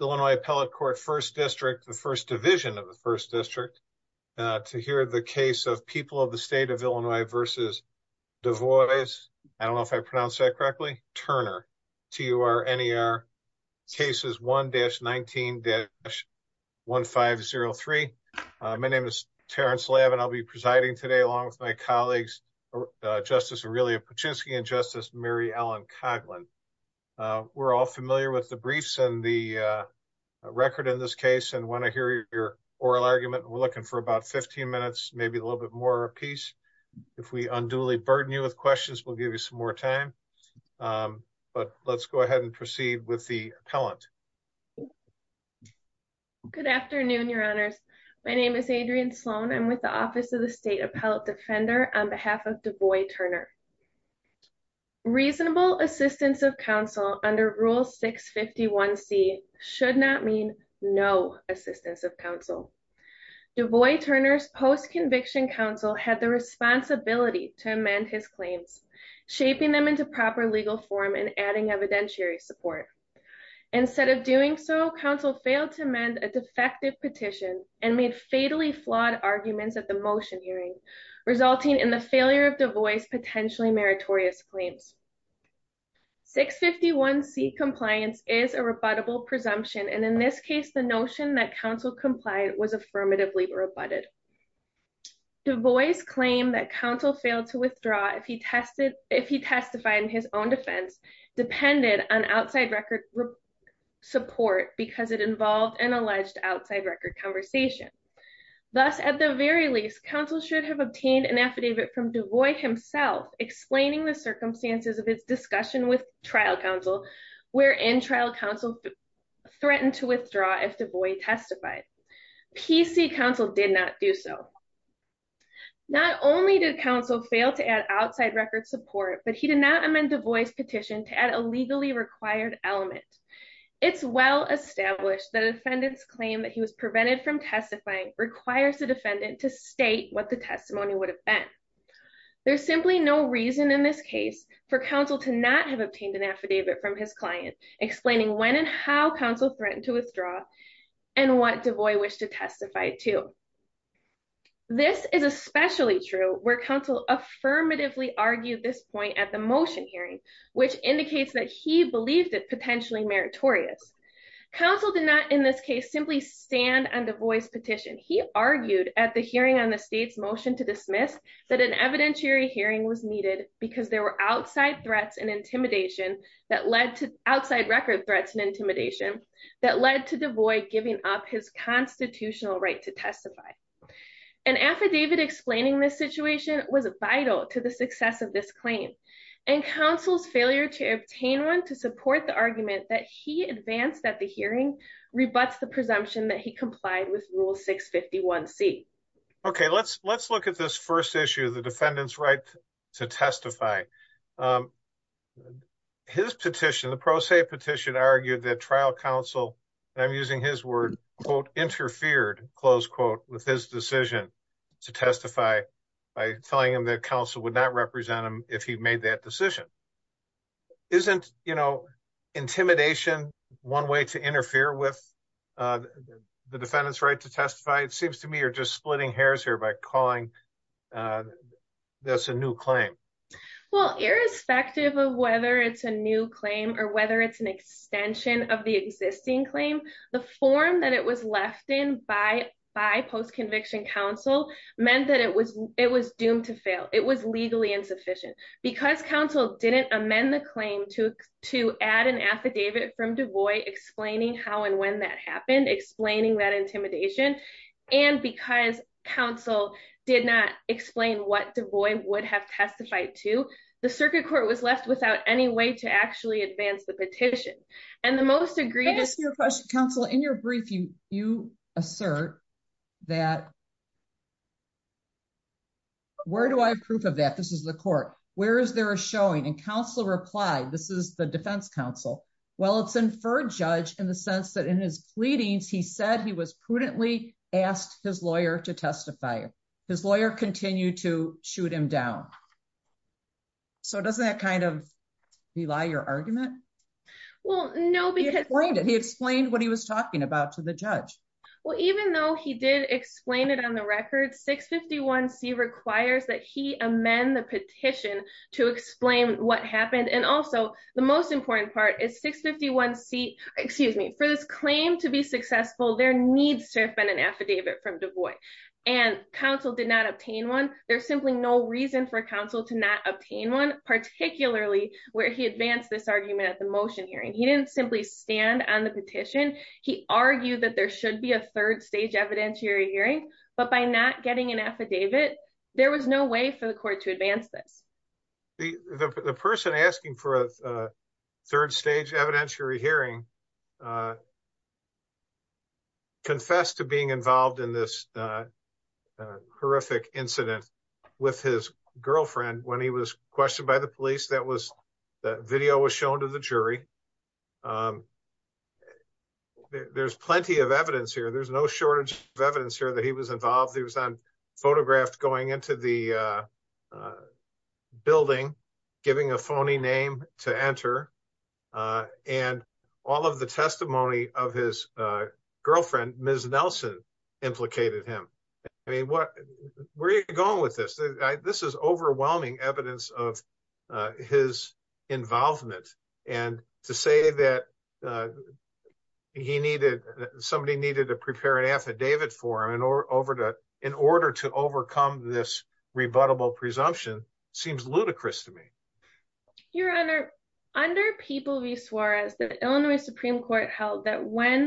Illinois Appellate Court First District, the First Division of the First District, to hear the case of People of the State of Illinois v. Du Bois Turner, T-U-R-N-E-R, Cases 1-19-1503. My name is Terrence Labb and I'll be presiding today along with my colleagues Justice Aurelia Paczynski and Justice Mary Ellen Coghlan. We're all familiar with the briefs and a record in this case and want to hear your oral argument. We're looking for about 15 minutes, maybe a little bit more a piece. If we unduly burden you with questions, we'll give you some more time. But let's go ahead and proceed with the appellant. Good afternoon, your honors. My name is Adrienne Sloan. I'm with the Office of the State Appellate Defender on behalf of Du Bois Turner and I'm here to present the case of People of the State of Illinois v. Du Bois Turner, T-U-R-N-E-R, Cases 1-19-1503. My name is Adrienne Sloan. I'm with the Office of the State Sloan. I'm with the Office of the State Appellate Defender on behalf of Du Bois Turner, T-U-R-N-E-R, is a rebuttable presumtion and, in this case, the notion that counsel compliant was affirmatively rebutted. DuBois claim that counsel failed to withdraw if he testify on his own defense depended on outside record support because it involved an alleged outside record conversation. Thus, at the very least, counsel should have obtained an affidavit from DuBois himself explaining the circumstances of his discussion with trial counsel, wherein trial counsel threatened to withdraw if DuBois testified. PC counsel did not do so. Not only did counsel fail to add outside record support, but he did not amend DuBois' petition to add a legally required element. It's well established that a defendant's claim that he was prevented from testifying requires the defendant to state what the testimony would have been. There's simply no reason in this case for counsel to not have obtained an affidavit from his client explaining when and how counsel threatened to withdraw and what DuBois wished to testify to. This is especially true where counsel affirmatively argued this point at the motion hearing, which indicates that he believed it potentially meritorious. Counsel did not, in this case, simply stand on DuBois' petition. He argued at the hearing on the state's motion to dismiss that an evidentiary hearing was needed because there were outside threats and intimidation that led to outside record threats and intimidation that led to DuBois giving up his constitutional right to testify. An affidavit explaining this situation was vital to the success of this claim, and counsel's failure to obtain one to support the argument that he advanced at Rule 651C. Okay, let's look at this first issue, the defendant's right to testify. His petition, the pro se petition, argued that trial counsel, and I'm using his word, quote, interfered, close quote, with his decision to testify by telling him that counsel would not represent him if he made that decision. Isn't, you know, intimidation one way to interfere with the defendant's right to testify? It seems to me you're just splitting hairs here by calling this a new claim. Well, irrespective of whether it's a new claim or whether it's an extension of the existing claim, the form that it was left in by post-conviction counsel meant that it was doomed to fail. It was legally insufficient. Because counsel didn't amend the claim to add an affidavit from DeVoy explaining how and when that happened, explaining that intimidation, and because counsel did not explain what DeVoy would have testified to, the circuit court was left without any way to actually advance the petition. And the most egregious... Counsel, in your brief, you assert that, where do I have proof of that? This is the court. Where is there a showing? And counsel replied, this is the defense counsel. Well, it's inferred, Judge, in the sense that in his pleadings, he said he was prudently asked his lawyer to testify. His lawyer continued to shoot him down. So doesn't that kind of rely your argument? Well, no, because... He explained what he was talking about to the judge. Well, even though he did explain it on the record, 651c requires that he amend the petition to explain what happened. And also, the most important part is 651c, excuse me, for this claim to be successful, there needs to have been an affidavit from DeVoy. And counsel did not obtain one. There's simply no reason for counsel to not obtain one, particularly where he advanced this argument at the motion hearing. He didn't simply stand on the petition. He argued that there should be a third stage evidentiary hearing, but by not getting an affidavit, there was no way for the court to advance this. The person asking for a third stage evidentiary hearing confessed to being involved in this horrific incident with his girlfriend when he was there. There's plenty of evidence here. There's no shortage of evidence here that he was involved. He was photographed going into the building, giving a phony name to enter. And all of the testimony of his girlfriend, Ms. Nelson, implicated him. I mean, where are you going with this? This is overwhelming evidence of his involvement. And to say that somebody needed to prepare an affidavit for him in order to overcome this rebuttable presumption seems ludicrous to me. Your Honor, under People v. Suarez, the Illinois Supreme Court held that when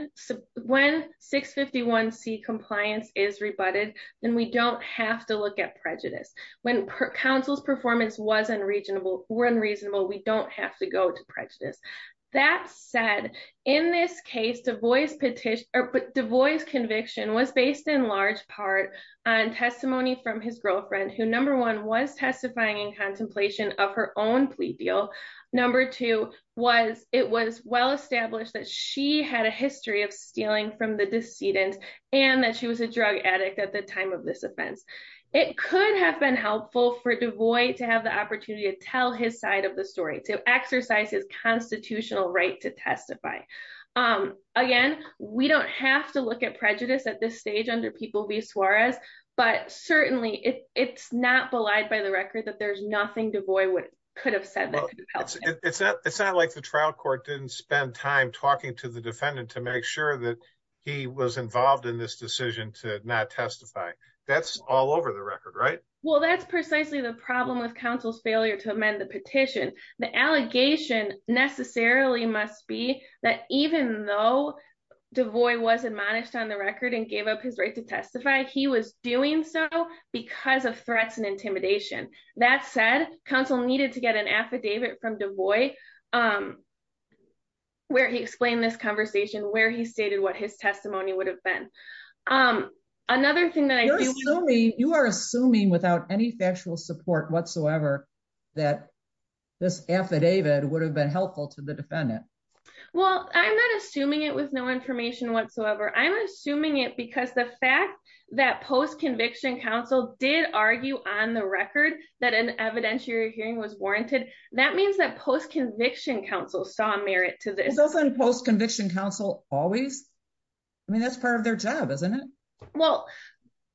651C compliance is rebutted, then we don't have to look at prejudice. When counsel's performance were unreasonable, we don't have to go to prejudice. That said, in this case, Du Bois' conviction was based in large part on testimony from his girlfriend who, number one, was testifying in contemplation of her own plea deal. Number two, it was well established that she had a history of stealing from the decedent and that she was a drug addict at the time of this offense. It could have been helpful for Du Bois to have the opportunity to tell his side of the story, to exercise his constitutional right to testify. Again, we don't have to look at prejudice at this stage under People v. Suarez, but certainly it's not belied by the record that there's nothing Du Bois could have said that could have helped him. It's not like the trial court didn't spend time talking to the defendant to make sure that he was involved in this decision to not testify. That's all over the record, right? Well, that's precisely the problem with counsel's failure to amend the petition. The allegation necessarily must be that even though Du Bois was admonished on the record and gave up his right to testify, he was doing so because of where he explained this conversation, where he stated what his testimony would have been. Another thing that I do... You are assuming without any factual support whatsoever that this affidavit would have been helpful to the defendant. Well, I'm not assuming it with no information whatsoever. I'm assuming it because the fact that post-conviction counsel did argue on the record that an evidentiary hearing was warranted, that means that post-conviction counsel saw merit to this. Isn't post-conviction counsel always? I mean, that's part of their job, isn't it? Well,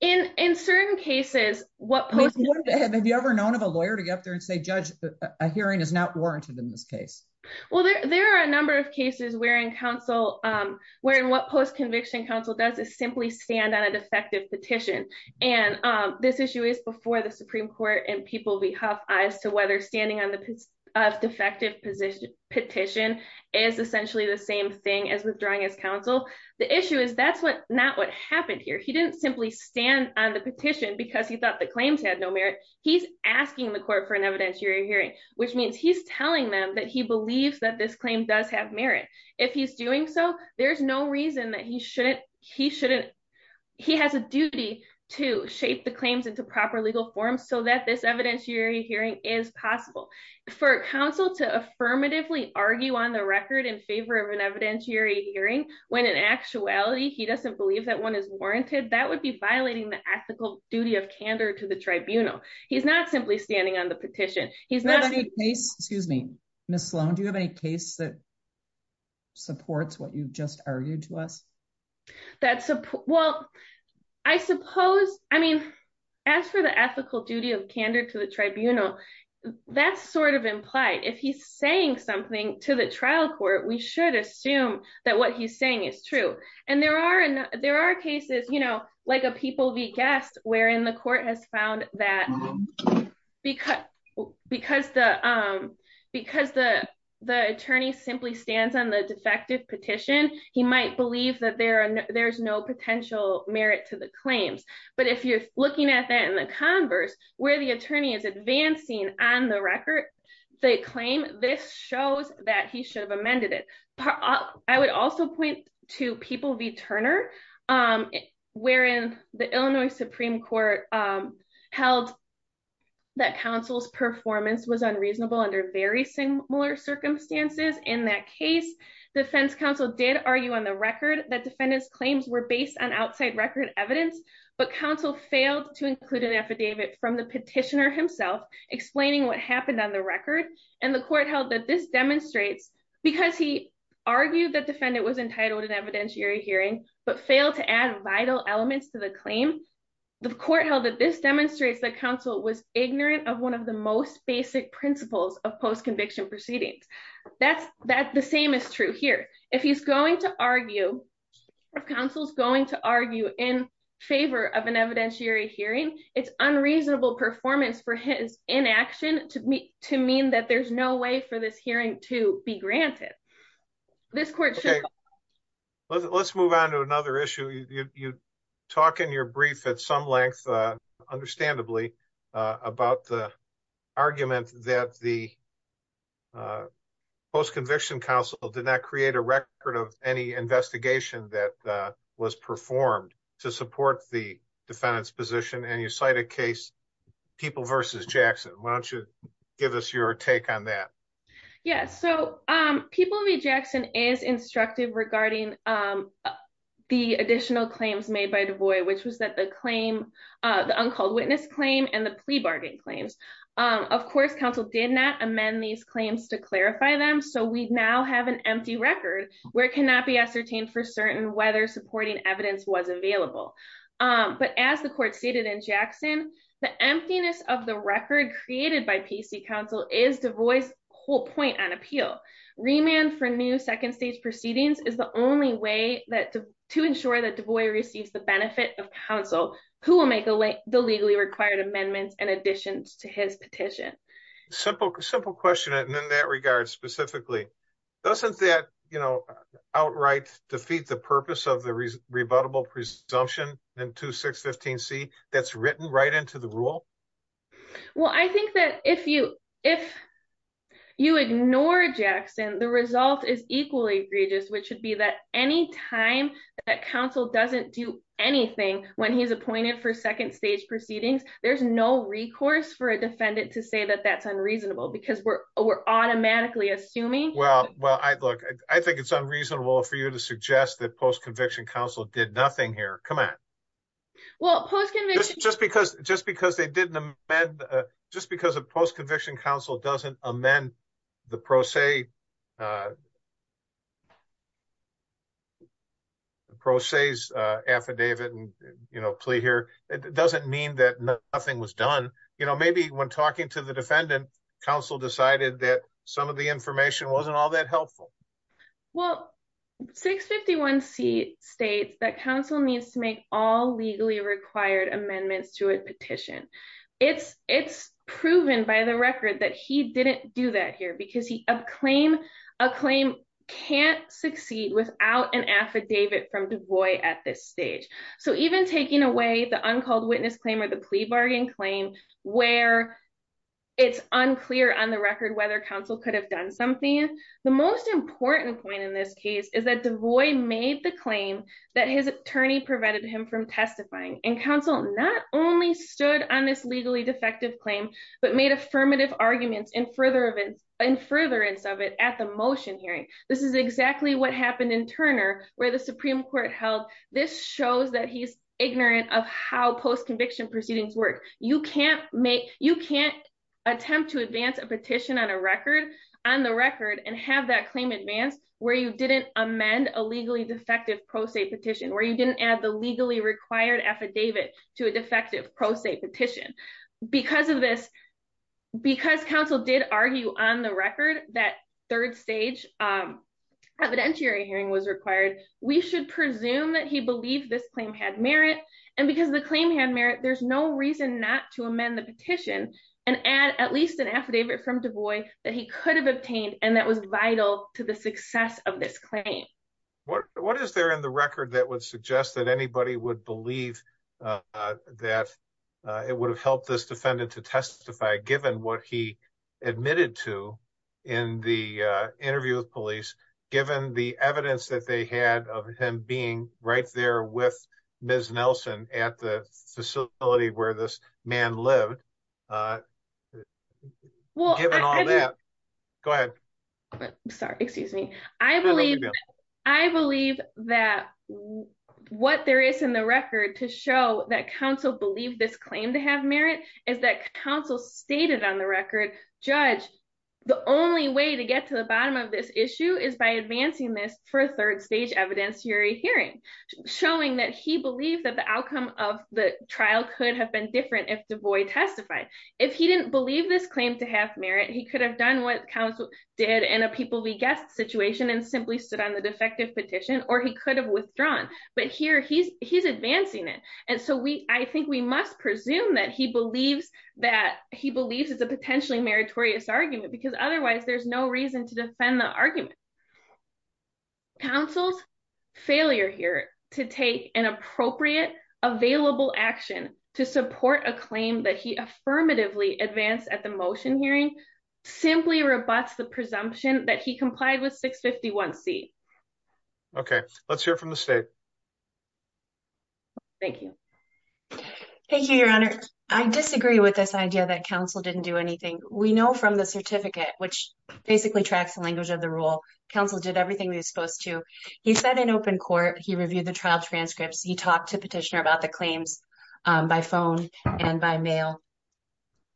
in certain cases... Have you ever known of a lawyer to get up there and say, Judge, a hearing is not warranted in this case? Well, there are a number of cases where in what post-conviction counsel does is simply stand on a defective petition. And this issue is before the Supreme Court and people have eyes to whether standing on the defective petition is essentially the same thing as withdrawing as counsel. The issue is that's not what happened here. He didn't simply stand on the petition because he thought the claims had no merit. He's asking the court for an evidentiary hearing, which means he's telling them that he believes that this claim does have merit. If he's doing so, there's no reason that he shouldn't... He has a duty to shape the claims into proper legal forms so that this evidentiary hearing is possible. For counsel to affirmatively argue on the record in favor of an evidentiary hearing, when in actuality, he doesn't believe that one is warranted, that would be violating the ethical duty of candor to the tribunal. He's not simply standing on the petition. He's not... Excuse me, Ms. Sloan, do you have any case that supports what you've just argued to us? Well, I suppose, I mean, as for the ethical duty of candor to the tribunal, that's sort of implied. If he's saying something to the trial court, we should assume that what he's saying is true. And there are cases, you know, like a People v. Guest wherein the court has found that because the attorney simply stands on the defective petition, he might believe that there's no potential merit to the claims. But if you're looking at that in the converse, where the attorney is advancing on the record, the claim, this shows that he should have amended it. I would also point to People v. Turner, wherein the Illinois Supreme Court held that counsel's performance was unreasonable under very similar circumstances. In that case, defense counsel did argue on the record that defendant's claims were based on outside record evidence, but counsel failed to include an affidavit from the petitioner himself explaining what happened on the record. And the court held that this demonstrates, because he argued that defendant was entitled to an evidentiary hearing, but failed to add vital elements to the claim, the court held that this demonstrates that counsel was ignorant of one of most basic principles of post-conviction proceedings. That the same is true here. If he's going to argue, if counsel's going to argue in favor of an evidentiary hearing, it's unreasonable performance for his inaction to mean that there's no way for this hearing to be granted. This court should- Okay, let's move on to another issue. You talk in your brief at some length, understandably, about the argument that the post-conviction counsel did not create a record of any investigation that was performed to support the defendant's position. And you cite a case, People v. Jackson. Why don't you give us your take on that? Yes. So, People v. Jackson is instructive regarding the additional claims made by DeVoy, which was that the claim, the uncalled witness claim and the plea bargain claims. Of course, counsel did not amend these claims to clarify them. So, we now have an empty record where it cannot be ascertained for certain whether supporting evidence was available. But as the court stated in Jackson, the emptiness of the proceedings is the only way to ensure that DeVoy receives the benefit of counsel who will make the legally required amendments and additions to his petition. Simple question in that regard, specifically. Doesn't that, you know, outright defeat the purpose of the rebuttable presumption in 2615C that's written right into the rule? Well, I think that if you ignore Jackson, the result is equally egregious, which would be that any time that counsel doesn't do anything when he's appointed for second stage proceedings, there's no recourse for a defendant to say that that's unreasonable because we're automatically assuming. Well, look, I think it's unreasonable for you to suggest that post-conviction counsel did nothing here. Come on. Well, post-conviction. Just because they didn't amend, just because a post-conviction counsel doesn't amend the pro se's affidavit and plea here, it doesn't mean that nothing was done. You know, maybe when talking to the defendant, counsel decided that some of the information wasn't all that helpful. Well, 651C states that counsel needs to make all legally required amendments to petition. It's, it's proven by the record that he didn't do that here because he, a claim, a claim can't succeed without an affidavit from DeVoy at this stage. So, even taking away the uncalled witness claim or the plea bargain claim where it's unclear on the record whether counsel could have done something, the most important point in this case is that DeVoy made the claim that his attorney prevented him from testifying and counsel not only stood on this legally defective claim, but made affirmative arguments in further events, in furtherance of it at the motion hearing. This is exactly what happened in Turner where the Supreme Court held. This shows that he's ignorant of how post-conviction proceedings work. You can't make, you can't attempt to advance a petition on a record, on the record and have that claim advanced where you amend a legally defective pro se petition, where you didn't add the legally required affidavit to a defective pro se petition. Because of this, because counsel did argue on the record that third stage evidentiary hearing was required, we should presume that he believed this claim had merit and because the claim had merit, there's no reason not to amend the petition and add at least an affidavit from DeVoy that he could have obtained and that was vital to the claim. What is there in the record that would suggest that anybody would believe that it would have helped this defendant to testify given what he admitted to in the interview with police, given the evidence that they had of him being right there with Ms. Nelson at the facility where this man lived, given all that? Go ahead. Sorry, excuse me. I believe, I believe that what there is in the record to show that counsel believed this claim to have merit is that counsel stated on the record, judge, the only way to get to the bottom of this issue is by advancing this for a third stage evidence hearing, showing that he believed that the outcome of the trial could have been different if DeVoy testified. If he didn't believe this claim to have merit, he could have done what counsel did in a people-be-guessed situation and simply stood on the defective petition or he could have withdrawn, but here he's, he's advancing it and so we, I think we must presume that he believes that he believes it's a potentially meritorious argument because otherwise there's no reason to defend the argument. Counsel's failure here to take an appropriate, available action to support a claim that he affirmatively advanced at the motion hearing simply rebuts the presumption that he complied with 651c. Okay, let's hear from the state. Thank you. Thank you, your honor. I disagree with this idea that counsel didn't do anything. We know from the certificate, which basically tracks the language of the rule, counsel did everything he was supposed to. He sat in open court, he reviewed the trial transcripts, he talked to petitioner about the claims by phone and by mail.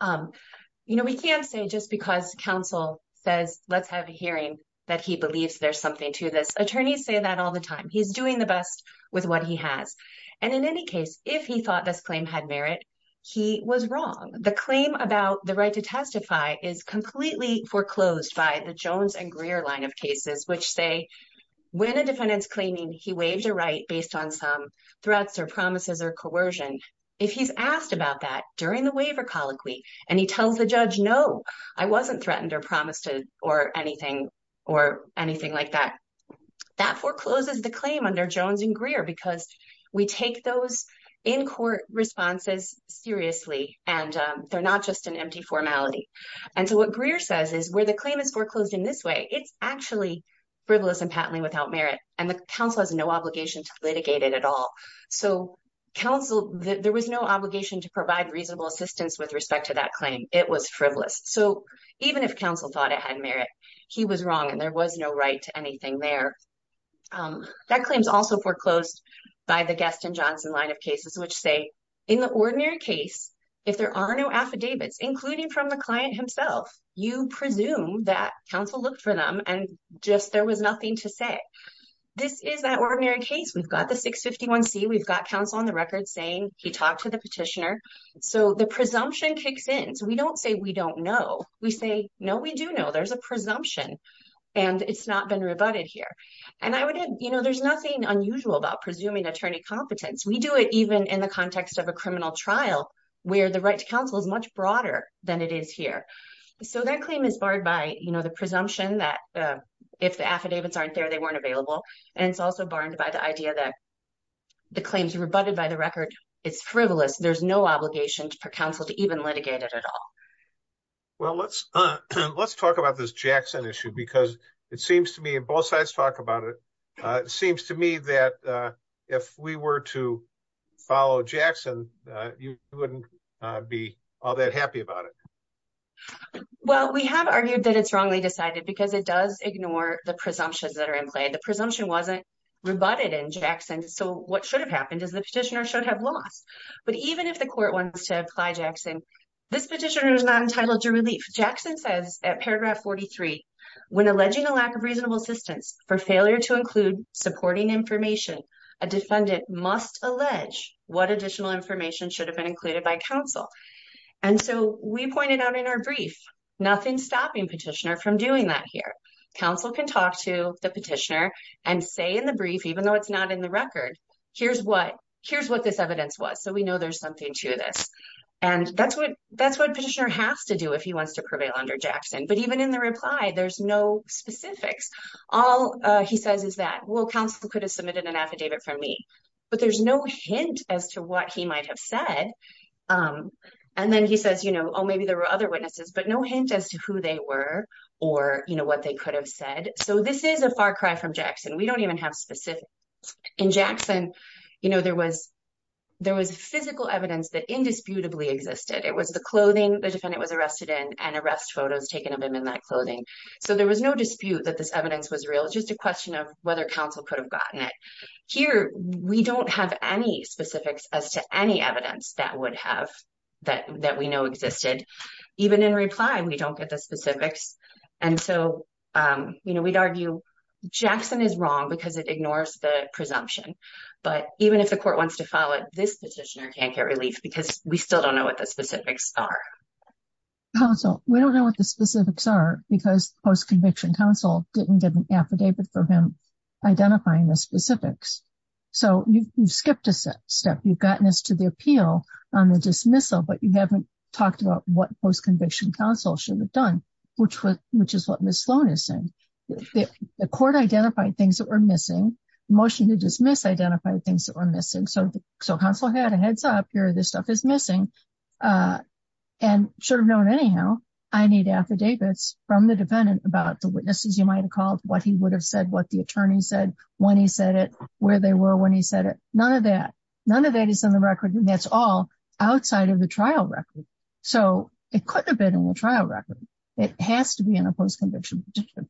You know, we can't say just because counsel says let's have a hearing that he believes there's something to this. Attorneys say that all the time. He's doing the best with what he has and in any case, if he thought this claim had merit, he was wrong. The claim about the right to testify is completely foreclosed by the Jones and Greer line of cases, which say when a defendant's claiming he waived a right based on some threats or promises or coercion, if he's asked about that during the waiver colloquy and he tells the judge no, I wasn't threatened or promised or anything like that, that forecloses the claim under Jones and Greer because we take those in court responses seriously and they're not just an empty formality. And so what Greer says is where the claim is foreclosed in this way, it's actually frivolous and patently without merit and the counsel has no obligation to litigate it at all. So counsel, there was no obligation to provide reasonable assistance with respect to that claim. It was frivolous. So even if counsel thought it had merit, he was wrong and there was no right to anything there. That claim is also foreclosed by the Gaston Johnson line of cases, which say in the ordinary case, if there are no affidavits, including from the client himself, you presume that counsel looked for them and just there was nothing to say. This is that ordinary case. We've got the 651C, we've got counsel on the record saying he talked to the petitioner. So the presumption kicks in. So we don't say we don't know. We say, no, we do know there's a presumption and it's not been rebutted here. And there's nothing unusual about presuming attorney competence. We do it even in the context of a criminal trial where the right to counsel is much broader than it is here. So that claim is barred by the presumption that if the affidavits aren't there, they weren't available. And it's also barred by the idea that the claims rebutted by the record, it's frivolous. There's no obligation for counsel to even litigate it at all. Well, let's talk about this Jackson issue because it seems to me, and both sides talk about it, it seems to me that if we were to follow Jackson, you wouldn't be all that happy about it. Well, we have argued that it's wrongly decided because it does ignore the presumptions that are in play. The presumption wasn't rebutted in Jackson. So what should have happened is the petitioner should have lost. But even if the court wants to apply Jackson, this petitioner is not entitled to relief. Jackson says at paragraph 43, when alleging a lack of reasonable assistance for failure to include supporting information, a defendant must allege what additional information should have been included by counsel. And so we pointed out in our brief, nothing stopping petitioner from doing that here. Counsel can talk to the petitioner and say in the brief, even though it's not in the record, here's what this evidence was. So we know there's something to this. And that's what petitioner has to do if he wants to prevail under Jackson. But even in the reply, there's no specifics. All he says is that, well, counsel could have submitted an affidavit from me, but there's no hint as to what he might have said. And then he says, oh, maybe there were witnesses, but no hint as to who they were or what they could have said. So this is a far cry from Jackson. We don't even have specifics. In Jackson, there was physical evidence that indisputably existed. It was the clothing the defendant was arrested in and arrest photos taken of him in that clothing. So there was no dispute that this evidence was real. It's just a question of whether counsel could have gotten it. Here, we don't have any specifics as to any evidence that we know existed. Even in reply, we don't get the specifics. And so we'd argue Jackson is wrong because it ignores the presumption. But even if the court wants to file it, this petitioner can't get relief because we still don't know what the specifics are. Counsel, we don't know what the specifics are because post-conviction counsel didn't get an affidavit for him identifying the specifics. So you've skipped a step. You've appealed on the dismissal, but you haven't talked about what post-conviction counsel should have done, which is what Ms. Sloan is saying. The court identified things that were missing. The motion to dismiss identified things that were missing. So counsel had a heads up here. This stuff is missing and should have known anyhow. I need affidavits from the defendant about the witnesses you might have called, what he would have said, what the attorney said, when he said it, where they were when he said it. None of that. None of that is on the record. That's all outside of the trial record. So it couldn't have been in the trial record. It has to be in a post-conviction petition.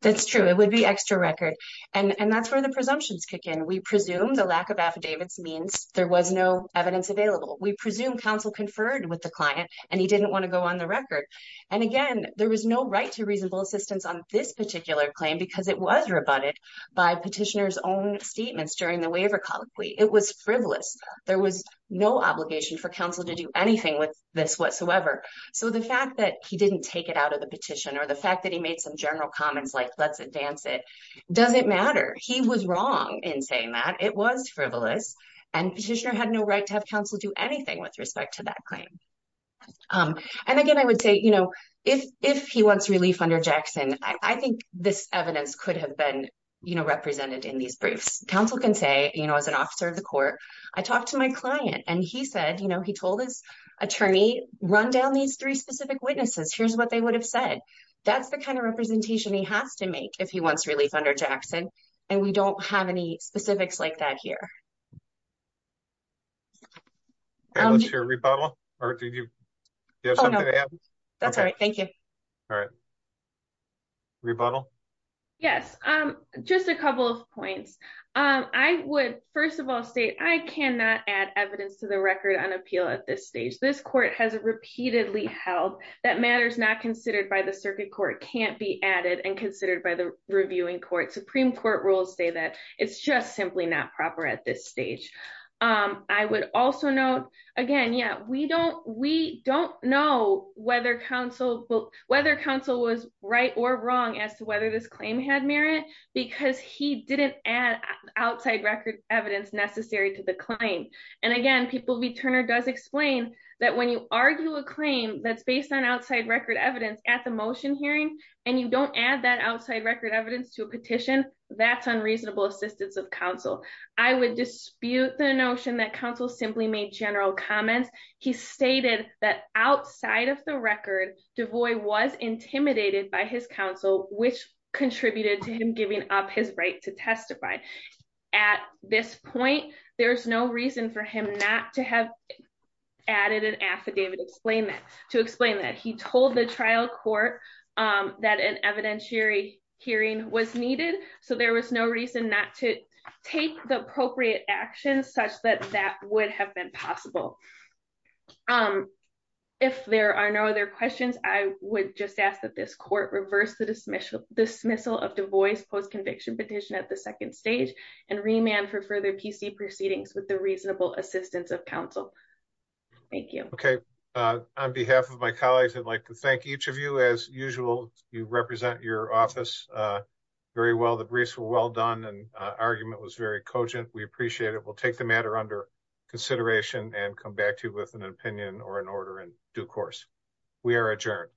That's true. It would be extra record. And that's where the presumptions kick in. We presume the lack of affidavits means there was no evidence available. We presume counsel conferred with the client and he didn't want to go on the record. And again, there was no right to reasonable assistance on this particular claim because it was rebutted by petitioner's own statements during the waiver colloquy. It was frivolous. There was no obligation for counsel to do anything with this whatsoever. So the fact that he didn't take it out of the petition or the fact that he made some general comments like, let's advance it, doesn't matter. He was wrong in saying that it was frivolous and petitioner had no right to have counsel do anything with respect to that claim. And again, I would say, you know, if he wants relief under Jackson, I think this evidence could have been, you know, represented in these briefs. Counsel can say, you know, as an officer of the court, I talked to my client and he said, you know, he told his attorney, run down these three specific witnesses. Here's what they would have said. That's the kind of representation he has to make if he wants relief under Jackson. And we don't have any specifics like that here. Okay. Let's hear a rebuttal or did you have something to add? That's all right. Thank you. All right. Rebuttal. Yes. Just a couple of points. I would, first of all state, I cannot add evidence to the record on appeal at this stage. This court has repeatedly held that matters not considered by the circuit court can't be added and considered by the reviewing court. Supreme court rules say that it's just simply not proper at this stage. I would also note again, yeah, we don't, we don't know whether counsel, whether counsel was right or wrong as to whether this claim had merit because he didn't add outside record evidence necessary to the claim. And again, people, we Turner does explain that when you argue a claim that's based on outside record evidence at the motion hearing, and you don't add that outside record evidence to a petition, that's unreasonable assistance of council. I would dispute the notion that council simply made general comments. He stated that outside of the record, DeVoy was intimidated by his counsel, which contributed to him giving up his right to testify. At this point, there's no reason for him not to have added an affidavit. Explain that to explain that he told the trial court that an there was no reason not to take the appropriate actions such that that would have been possible. If there are no other questions, I would just ask that this court reverse the dismissal dismissal of DeVoy's post conviction petition at the second stage and remand for further PC proceedings with the reasonable assistance of counsel. Thank you. Okay. On behalf of my colleagues, I'd like to as usual, you represent your office very well. The briefs were well done and argument was very cogent. We appreciate it. We'll take the matter under consideration and come back to you with an opinion or an order in due course. We are adjourned.